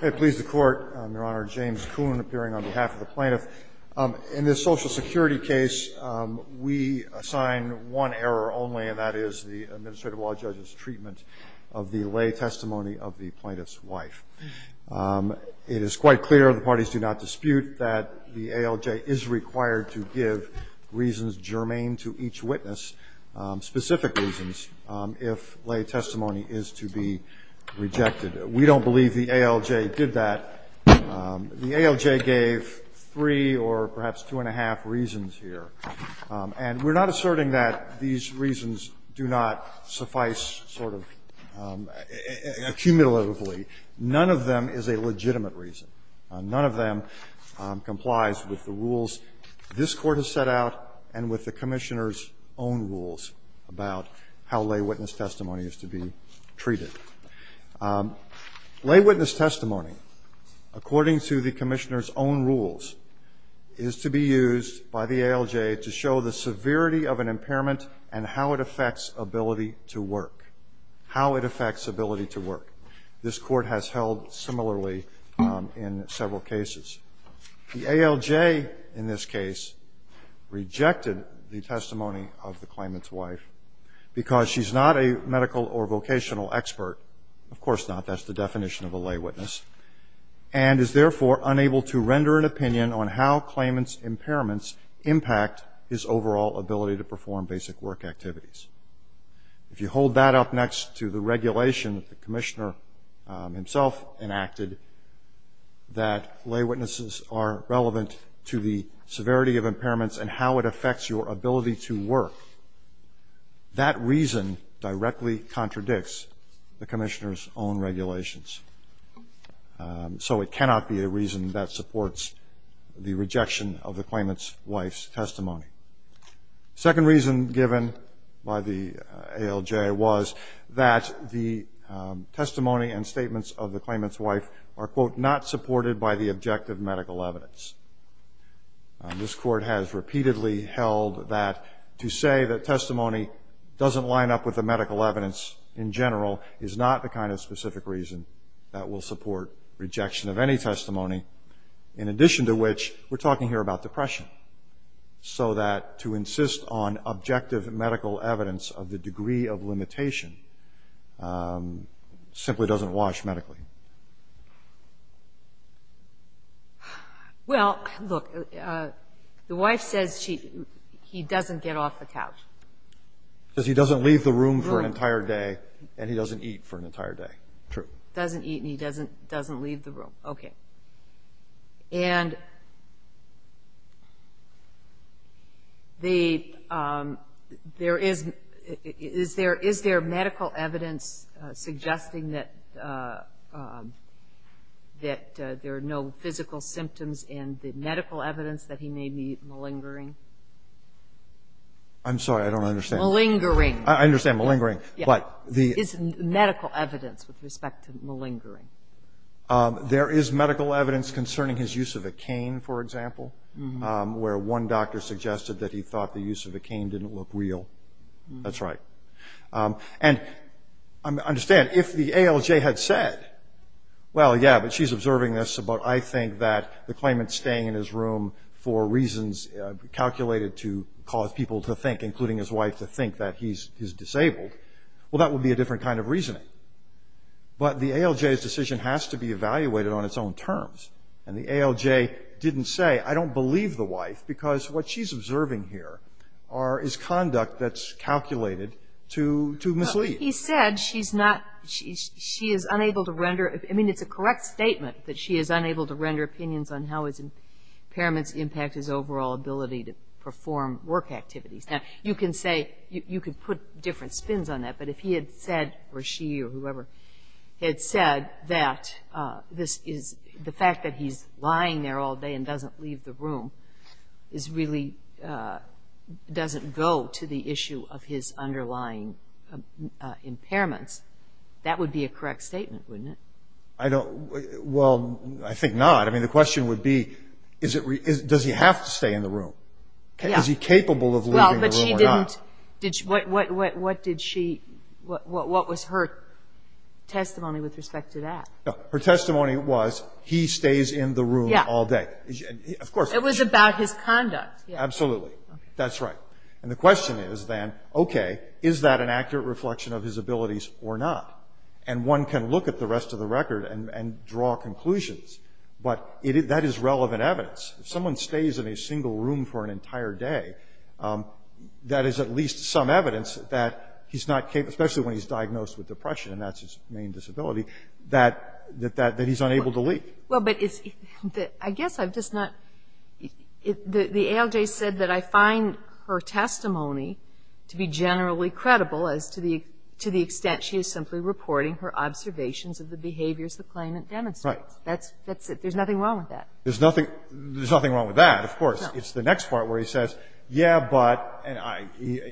I please the Court. I'm Your Honor, James Kuhn, appearing on behalf of the plaintiff. In this Social Security case, we assign one error only, and that is the administrative law judge's treatment of the lay testimony of the plaintiff's wife. It is quite clear, the parties do not dispute, that the ALJ is required to give reasons germane to each witness, specific reasons, if lay testimony is to be rejected. We don't believe the ALJ did that. The ALJ gave three or perhaps two and a half reasons here. And we're not asserting that these reasons do not suffice sort of accumulatively. None of them is a legitimate reason. None of them complies with the rules this Court has set out and with the Commissioner's own rules about how lay witness testimony is to be treated. Lay witness testimony, according to the Commissioner's own rules, is to be used by the ALJ to show the severity of an impairment and how it affects ability to work, how it affects ability to work. This Court has held similarly in several cases. The ALJ in this case rejected the testimony of the claimant's wife because she's not a medical or vocational expert. Of course not. That's the definition of a lay witness, and is therefore unable to render an opinion on how claimant's impairments impact his overall ability to perform basic work activities. If you hold that up next to the regulation that the Commissioner himself enacted, that lay witnesses are relevant to the severity of impairments and how it affects your ability to work, that reason directly contradicts the Commissioner's own regulations. So it cannot be a reason that supports the rejection of the claimant's wife's testimony. Second reason given by the ALJ was that the testimony and statements of the claimant's wife are, quote, not supported by the objective medical evidence. This Court has repeatedly held that to say that testimony doesn't line up with the medical evidence in general is not the kind of specific reason that will support rejection of any testimony, in addition to which we're talking here about depression. So that to insist on objective medical evidence of the degree of limitation simply doesn't wash medically. Well, look, the wife says he doesn't get off the couch. Says he doesn't leave the room for an entire day and he doesn't eat for an entire day. True. Doesn't eat and he doesn't leave the room. Okay. And there is, is there medical evidence suggesting that there are no physical symptoms in the medical evidence that he may be malingering? I'm sorry. I don't understand. Malingering. I understand malingering, but the Is there medical evidence with respect to malingering? There is medical evidence concerning his use of a cane, for example, where one doctor suggested that he thought the use of a cane didn't look real. That's right. And understand, if the ALJ had said, well, yeah, but she's observing this, but I think that the claimant's staying in his room for reasons calculated to cause people to think, including his wife, to think that he's disabled, well, that would be a different kind of reasoning. But the ALJ's decision has to be evaluated on its own terms. And the ALJ didn't say, I don't believe the wife because what she's observing here is conduct that's calculated to mislead. He said she's not, she is unable to render, I mean, it's a correct statement that she is unable to render opinions on how his impairments impact his overall ability to perform work activities. Now, you can say, you could put different spins on that, but if he had said, or she, or whoever, had said that this is, the fact that he's lying there all day and doesn't leave the room is really, doesn't go to the issue of his underlying impairments, that would be a correct statement, wouldn't it? I don't, well, I think not. I mean, the question would be, does he have to stay in the room? Is he capable of leaving the room or not? What was her testimony with respect to that? Her testimony was, he stays in the room all day. It was about his conduct. Absolutely, that's right, and the question is then, okay, is that an accurate reflection of his abilities or not? And one can look at the rest of the record and draw conclusions, but that is relevant evidence. If someone stays in a single room for an entire day, that is at least some evidence that he's not capable, especially when he's diagnosed with depression, and that's his main disability, that he's unable to leave. Well, but I guess I've just not, the ALJ said that I find her testimony to be generally credible as to the extent she is simply reporting her observations of the behaviors the claimant demonstrates. Right. That's it. There's nothing wrong with that. It's the next part where he says, yeah, but, and I,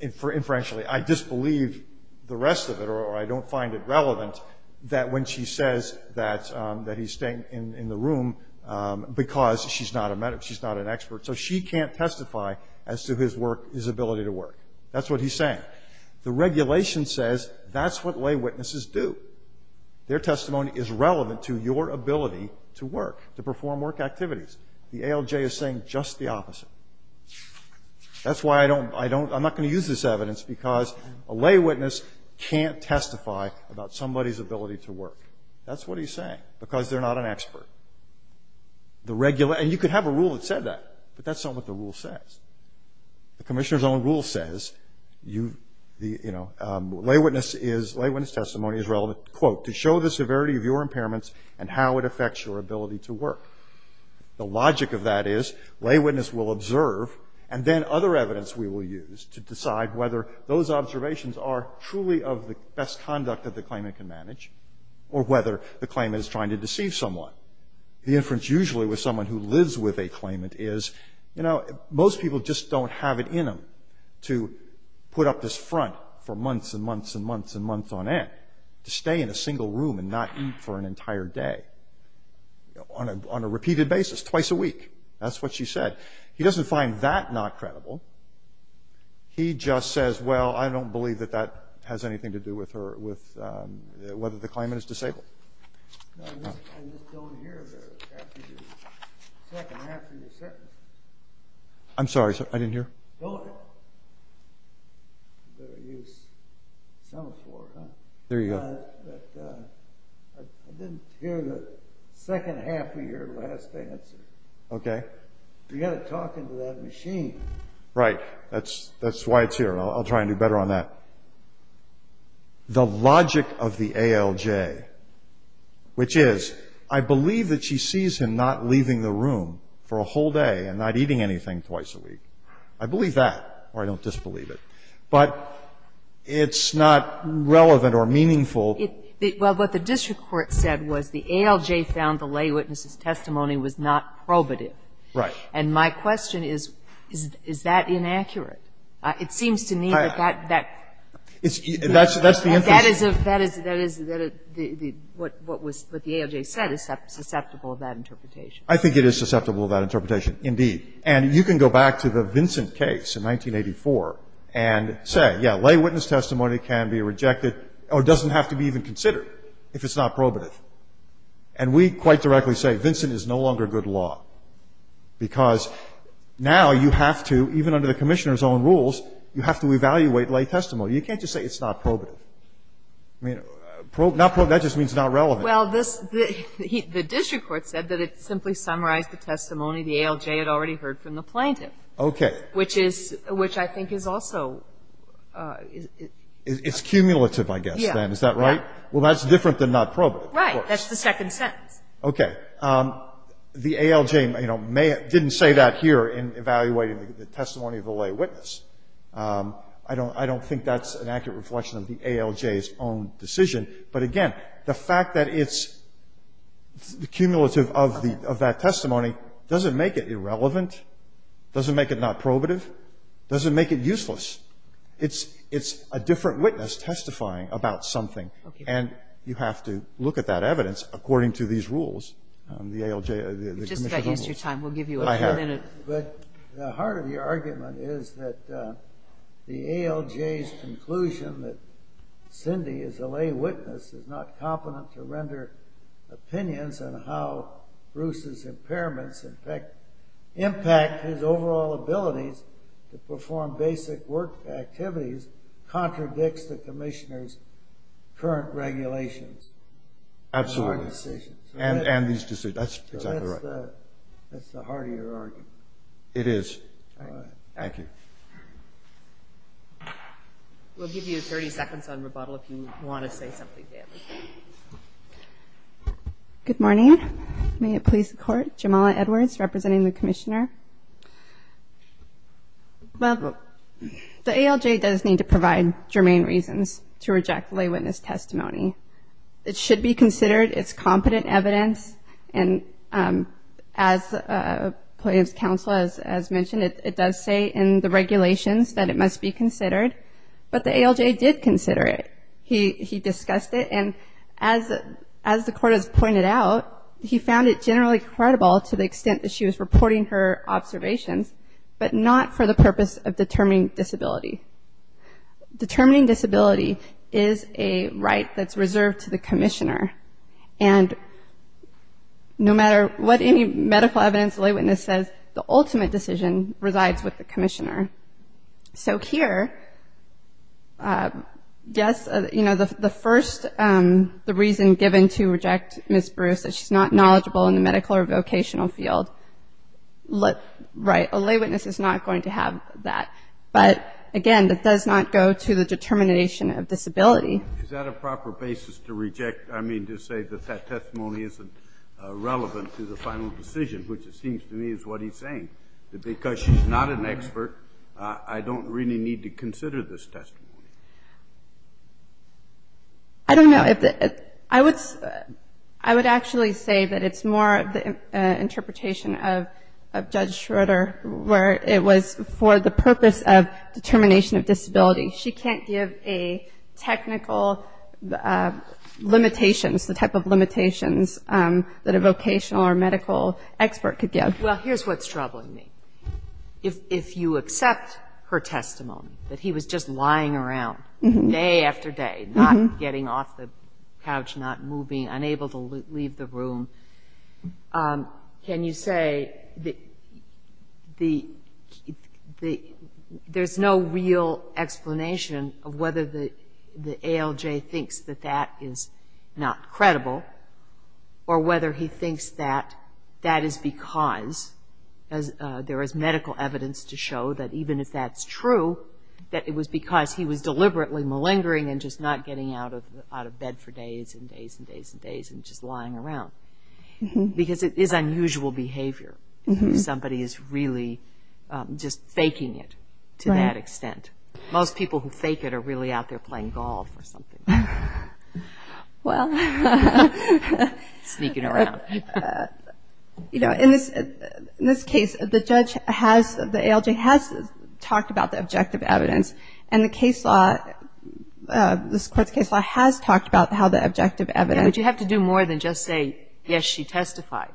inferentially, I disbelieve the rest of it, or I don't find it relevant that when she says that he's staying in the room because she's not a medic, she's not an expert, so she can't testify as to his work, his ability to work. That's what he's saying. The regulation says that's what lay witnesses do. Their testimony is relevant to your ability to work, to perform work activities. The ALJ is saying just the opposite. That's why I don't, I don't, I'm not going to use this evidence because a lay witness can't testify about somebody's ability to work. That's what he's saying, because they're not an expert. The regular, and you could have a rule that said that, but that's not what the rule says. The commissioner's own rule says you, the, you know, lay witness is, lay witness testimony is relevant, quote, to show the severity of your impairments and how it affects your ability to work. The logic of that is lay witness will observe, and then other evidence we will use to decide whether those observations are truly of the best conduct that the claimant can manage, or whether the claimant is trying to deceive someone. The inference usually with someone who lives with a claimant is, you know, most people just don't have it in them to put up this front for months and months and months and months on end, to stay in a single room and not eat for an entire day on a, on a repeated basis, twice a week. That's what she said. He doesn't find that not credible. He just says, well, I don't believe that that has anything to do with her, with whether the claimant is disabled. I'm sorry, sir. I didn't hear. There you go. Okay. You got to talk into that machine. Right. That's, that's why it's here. I'll try and do better on that. The logic of the ALJ, which is, I believe that she sees him not leaving the room for a whole day and not eating anything twice a week. I believe that, or I don't disbelieve it. But it's not relevant or meaningful. Well, what the district court said was the ALJ found the lay witness's testimony was not probative. Right. And my question is, is that inaccurate? It seems to me that that, that. That's, that's the interest. That is, that is, what the ALJ said is susceptible of that interpretation. I think it is susceptible of that interpretation, indeed. And you can go back to the Vincent case in 1984 and say, yeah, lay witness testimony can be rejected or doesn't have to be even considered if it's not probative. And we quite directly say Vincent is no longer good law because now you have to, even under the Commissioner's own rules, you have to evaluate lay testimony. You can't just say it's not probative. I mean, not probative, that just means not relevant. Well, this, the district court said that it simply summarized the testimony the ALJ had already heard from the plaintiff. Okay. Which is, which I think is also. It's cumulative, I guess, then. Yeah. Is that right? Well, that's different than not probative. Right. That's the second sentence. Okay. The ALJ, you know, didn't say that here in evaluating the testimony of the lay witness. I don't, I don't think that's an accurate reflection of the ALJ's own decision. But again, the fact that it's cumulative of the, of that testimony doesn't make it irrelevant, doesn't make it not probative, doesn't make it useless. It's, it's a different witness testifying about something. Okay. And you have to look at that evidence according to these rules, the ALJ, the Commissioner's own rules. You just have to adjust your time. We'll give you a minute. I have. But the heart of your argument is that the ALJ's conclusion that Cindy is a lay witness is not competent to render opinions on how Bruce's impairments impact, impact his overall abilities to perform basic work activities contradicts the Commissioner's current regulations. Absolutely. And our decisions. And, and these decisions. That's exactly right. So that's the, that's the heart of your argument. It is. All right. Thank you. We'll give you 30 seconds on rebuttal if you want to say something. Good morning. May it please the Court. Jamala Edwards representing the Commissioner. Well, the ALJ does need to provide germane reasons to reject the lay witness testimony. It should be considered. It's competent evidence. And as the plaintiff's counsel has mentioned, it does say in the regulations that it must be considered. But the ALJ did consider it. He discussed it. And as the Court has pointed out, he found it generally credible to the extent that she was reporting her observations, but not for the purpose of determining disability. Determining disability is a right that's reserved to the Commissioner. And no matter what any medical evidence the lay witness says, the ultimate decision resides with the Commissioner. So here, yes, you know, the first, the reason given to reject Ms. Bruce, that she's not knowledgeable in the medical or vocational field, right, a lay witness is not going to have that. But, again, that does not go to the determination of disability. Is that a proper basis to reject? I mean, to say that that testimony isn't relevant to the final decision, which it seems to me is what he's saying, that because she's not an expert, I don't really need to consider this testimony. I don't know. I would actually say that it's more the interpretation of Judge Schroeder, where it was for the purpose of determination of disability. She can't give a technical limitations, the type of limitations that a vocational or medical expert could give. Well, here's what's troubling me. If you accept her testimony, that he was just lying around day after day, not getting off the couch, not moving, unable to leave the room, can you say there's no real explanation of whether the ALJ thinks that that is not credible or whether he thinks that that is because there is medical evidence to show that even if that's true, that it was because he was deliberately malingering and just not getting out of bed for days and days and days and days and just lying around? Because it is unusual behavior if somebody is really just faking it to that extent. Most people who fake it are really out there playing golf or something. Sneaking around. In this case, the ALJ has talked about the objective evidence, and this court's case law has talked about how the objective evidence But you have to do more than just say, yes, she testified.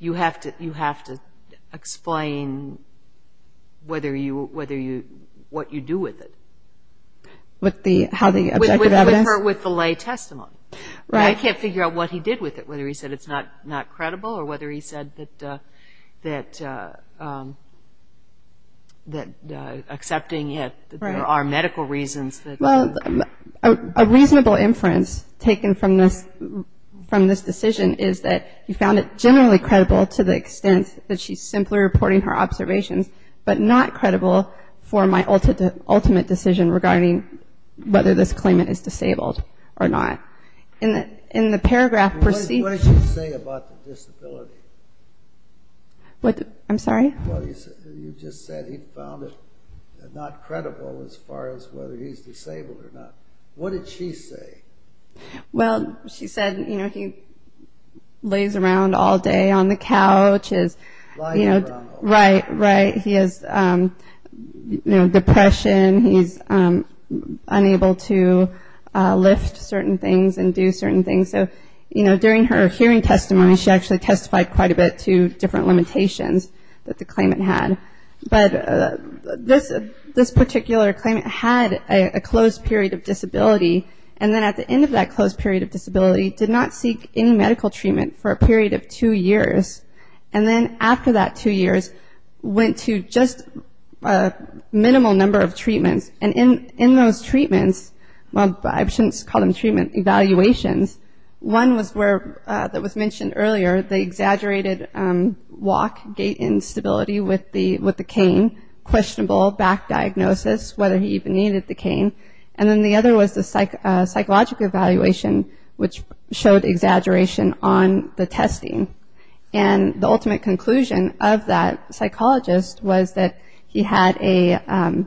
You have to explain what you do with it. With how the objective evidence? With the lay testimony. I can't figure out what he did with it, whether he said it's not credible or whether he said that accepting it, there are medical reasons. A reasonable inference taken from this decision is that he found it generally credible to the extent that she's simply reporting her observations, but not credible for my ultimate decision regarding whether this claimant is disabled or not. What did she say about the disability? I'm sorry? You just said he found it not credible as far as whether he's disabled or not. What did she say? She said he lays around all day on the couch. Lying around all day. Right. He has depression. He's unable to lift certain things and do certain things. During her hearing testimony, she actually testified quite a bit to different that the claimant had. But this particular claimant had a closed period of disability, and then at the end of that closed period of disability did not seek any medical treatment for a period of two years. And then after that two years went to just a minimal number of treatments. And in those treatments, well, I shouldn't call them treatment evaluations. One was where that was mentioned earlier, the exaggerated walk, gait instability with the cane, questionable back diagnosis, whether he even needed the cane. And then the other was the psychological evaluation, which showed exaggeration on the testing. And the ultimate conclusion of that psychologist was that he had a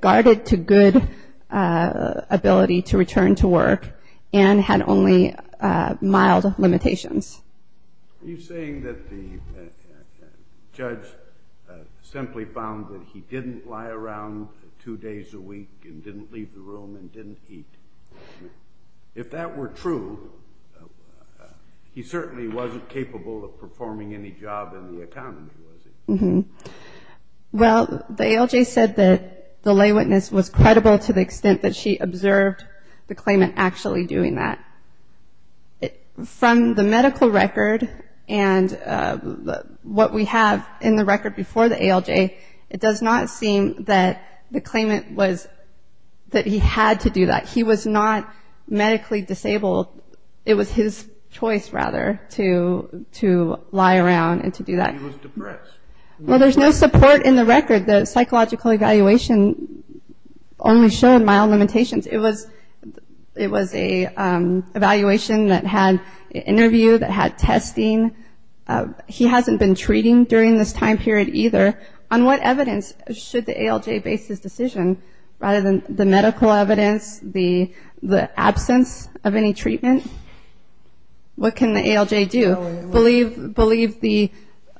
guarded to good ability to return to work and had only mild limitations. Are you saying that the judge simply found that he didn't lie around two days a week and didn't leave the room and didn't eat? If that were true, he certainly wasn't capable of performing any job in the economy, was he? Well, the ALJ said that the lay witness was credible to the extent that she observed the claimant actually doing that. From the medical record and what we have in the record before the ALJ, it does not seem that the claimant was that he had to do that. He was not medically disabled. It was his choice, rather, to lie around and to do that. Well, there's no support in the record. The psychological evaluation only showed mild limitations. It was an evaluation that had an interview, that had testing. He hasn't been treating during this time period either. On what evidence should the ALJ base this decision? Rather than the medical evidence, the absence of any treatment, what can the ALJ do? Believe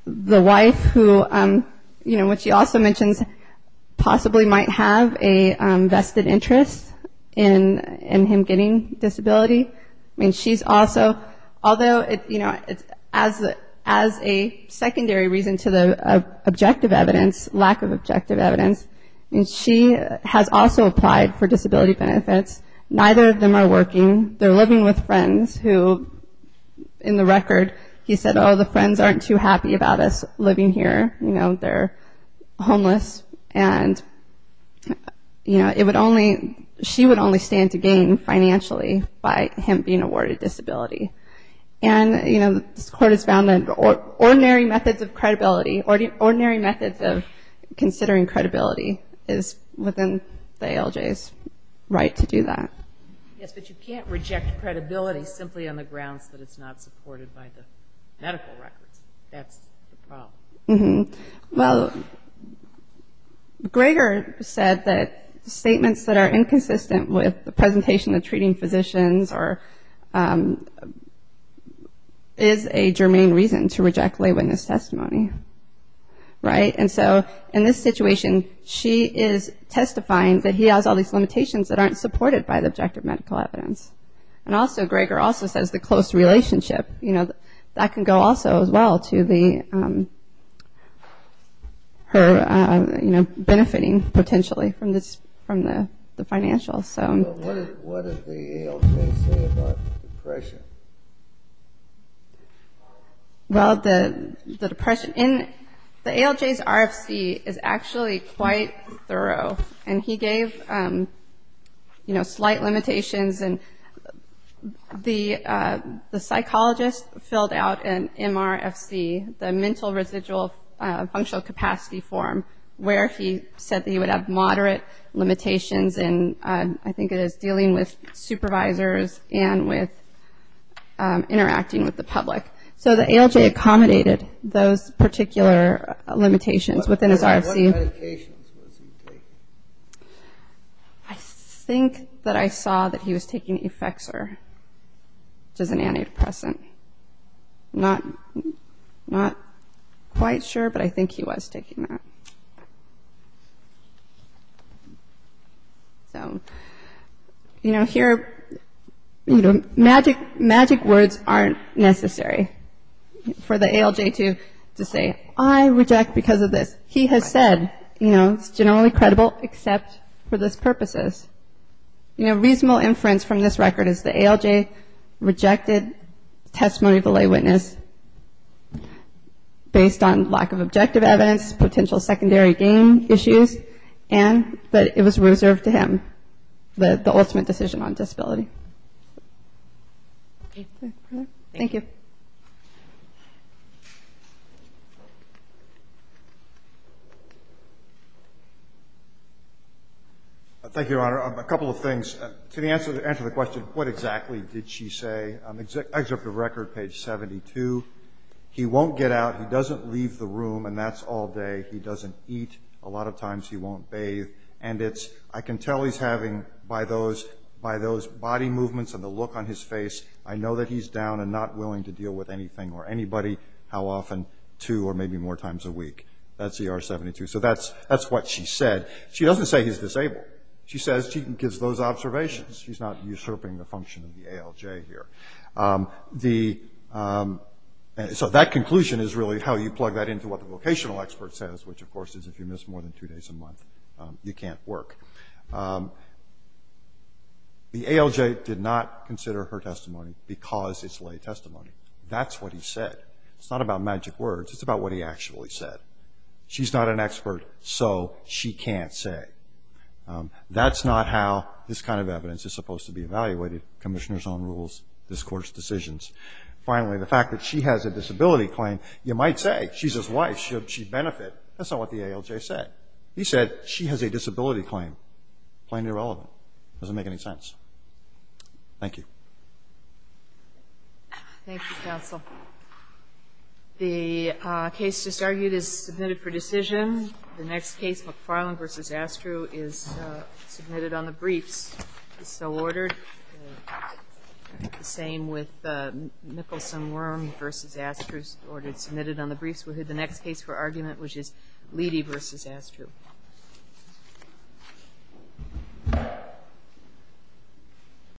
the wife who, what she also mentions, possibly might have a vested interest in him getting disability. I mean, she's also, although as a secondary reason to the objective evidence, lack of objective evidence, she has also applied for disability benefits. Neither of them are working. They're living with friends who, in the record, he said, oh, the friends aren't too happy about us living here. You know, they're homeless. And, you know, it would only, she would only stand to gain financially by him being awarded disability. And, you know, this court has found that ordinary methods of credibility, ordinary methods of considering credibility is within the ALJ's right to do that. Yes, but you can't reject credibility simply on the grounds that it's not supported by the medical records. That's the problem. Mm-hmm. Well, Greger said that statements that are inconsistent with the presentation of treating physicians are, is a germane reason to reject lay witness testimony. Right? And so in this situation, she is testifying that he has all these limitations that aren't supported by the objective medical evidence. And also, Greger also says the close relationship, you know, that can go also as well to her, you know, benefiting potentially from the financials. What did the ALJ say about depression? Well, the depression in the ALJ's RFC is actually quite thorough. And he gave, you know, slight limitations. And the psychologist filled out an MRFC, the Mental Residual Functional Capacity form, where he said that he would have moderate limitations in, I think it is, dealing with supervisors and with interacting with the public. So the ALJ accommodated those particular limitations within his RFC. What medications was he taking? I think that I saw that he was taking Efexor, which is an antidepressant. I'm not quite sure, but I think he was taking that. So, you know, here, you know, magic words aren't necessary for the ALJ to say, I reject because of this. He has said, you know, it's generally credible except for those purposes. You know, reasonable inference from this record is the ALJ rejected testimony of the lay witness based on lack of objective evidence, potential secondary gain issues, and that it was reserved to him, the ultimate decision on disability. Okay. Thank you. Thank you, Your Honor. A couple of things. To answer the question, what exactly did she say? Excerpt of record, page 72. He won't get out. He doesn't leave the room, and that's all day. He doesn't eat. A lot of times he won't bathe. I can tell he's having, by those body movements and the look on his face, I know that he's down and not willing to deal with anything or anybody, how often, two or maybe more times a week. That's ER 72. So that's what she said. She doesn't say he's disabled. She says she gives those observations. She's not usurping the function of the ALJ here. So that conclusion is really how you plug that into what the vocational expert says, which, of course, is if you miss more than two days a month, you can't work. The ALJ did not consider her testimony because it's lay testimony. That's what he said. It's not about magic words. It's about what he actually said. She's not an expert, so she can't say. That's not how this kind of evidence is supposed to be evaluated, commissioner's own rules, this Court's decisions. Finally, the fact that she has a disability claim, you might say she's his wife. Should she benefit? That's not what the ALJ said. He said she has a disability claim. Plain irrelevant. It doesn't make any sense. Thank you. Thank you, counsel. The case just argued is submitted for decision. The next case, McFarland v. Astru, is submitted on the briefs. It's so ordered. The same with Nicholson-Worm v. Astru, submitted on the briefs. We'll hear the next case for argument, which is Leidy v. Astru.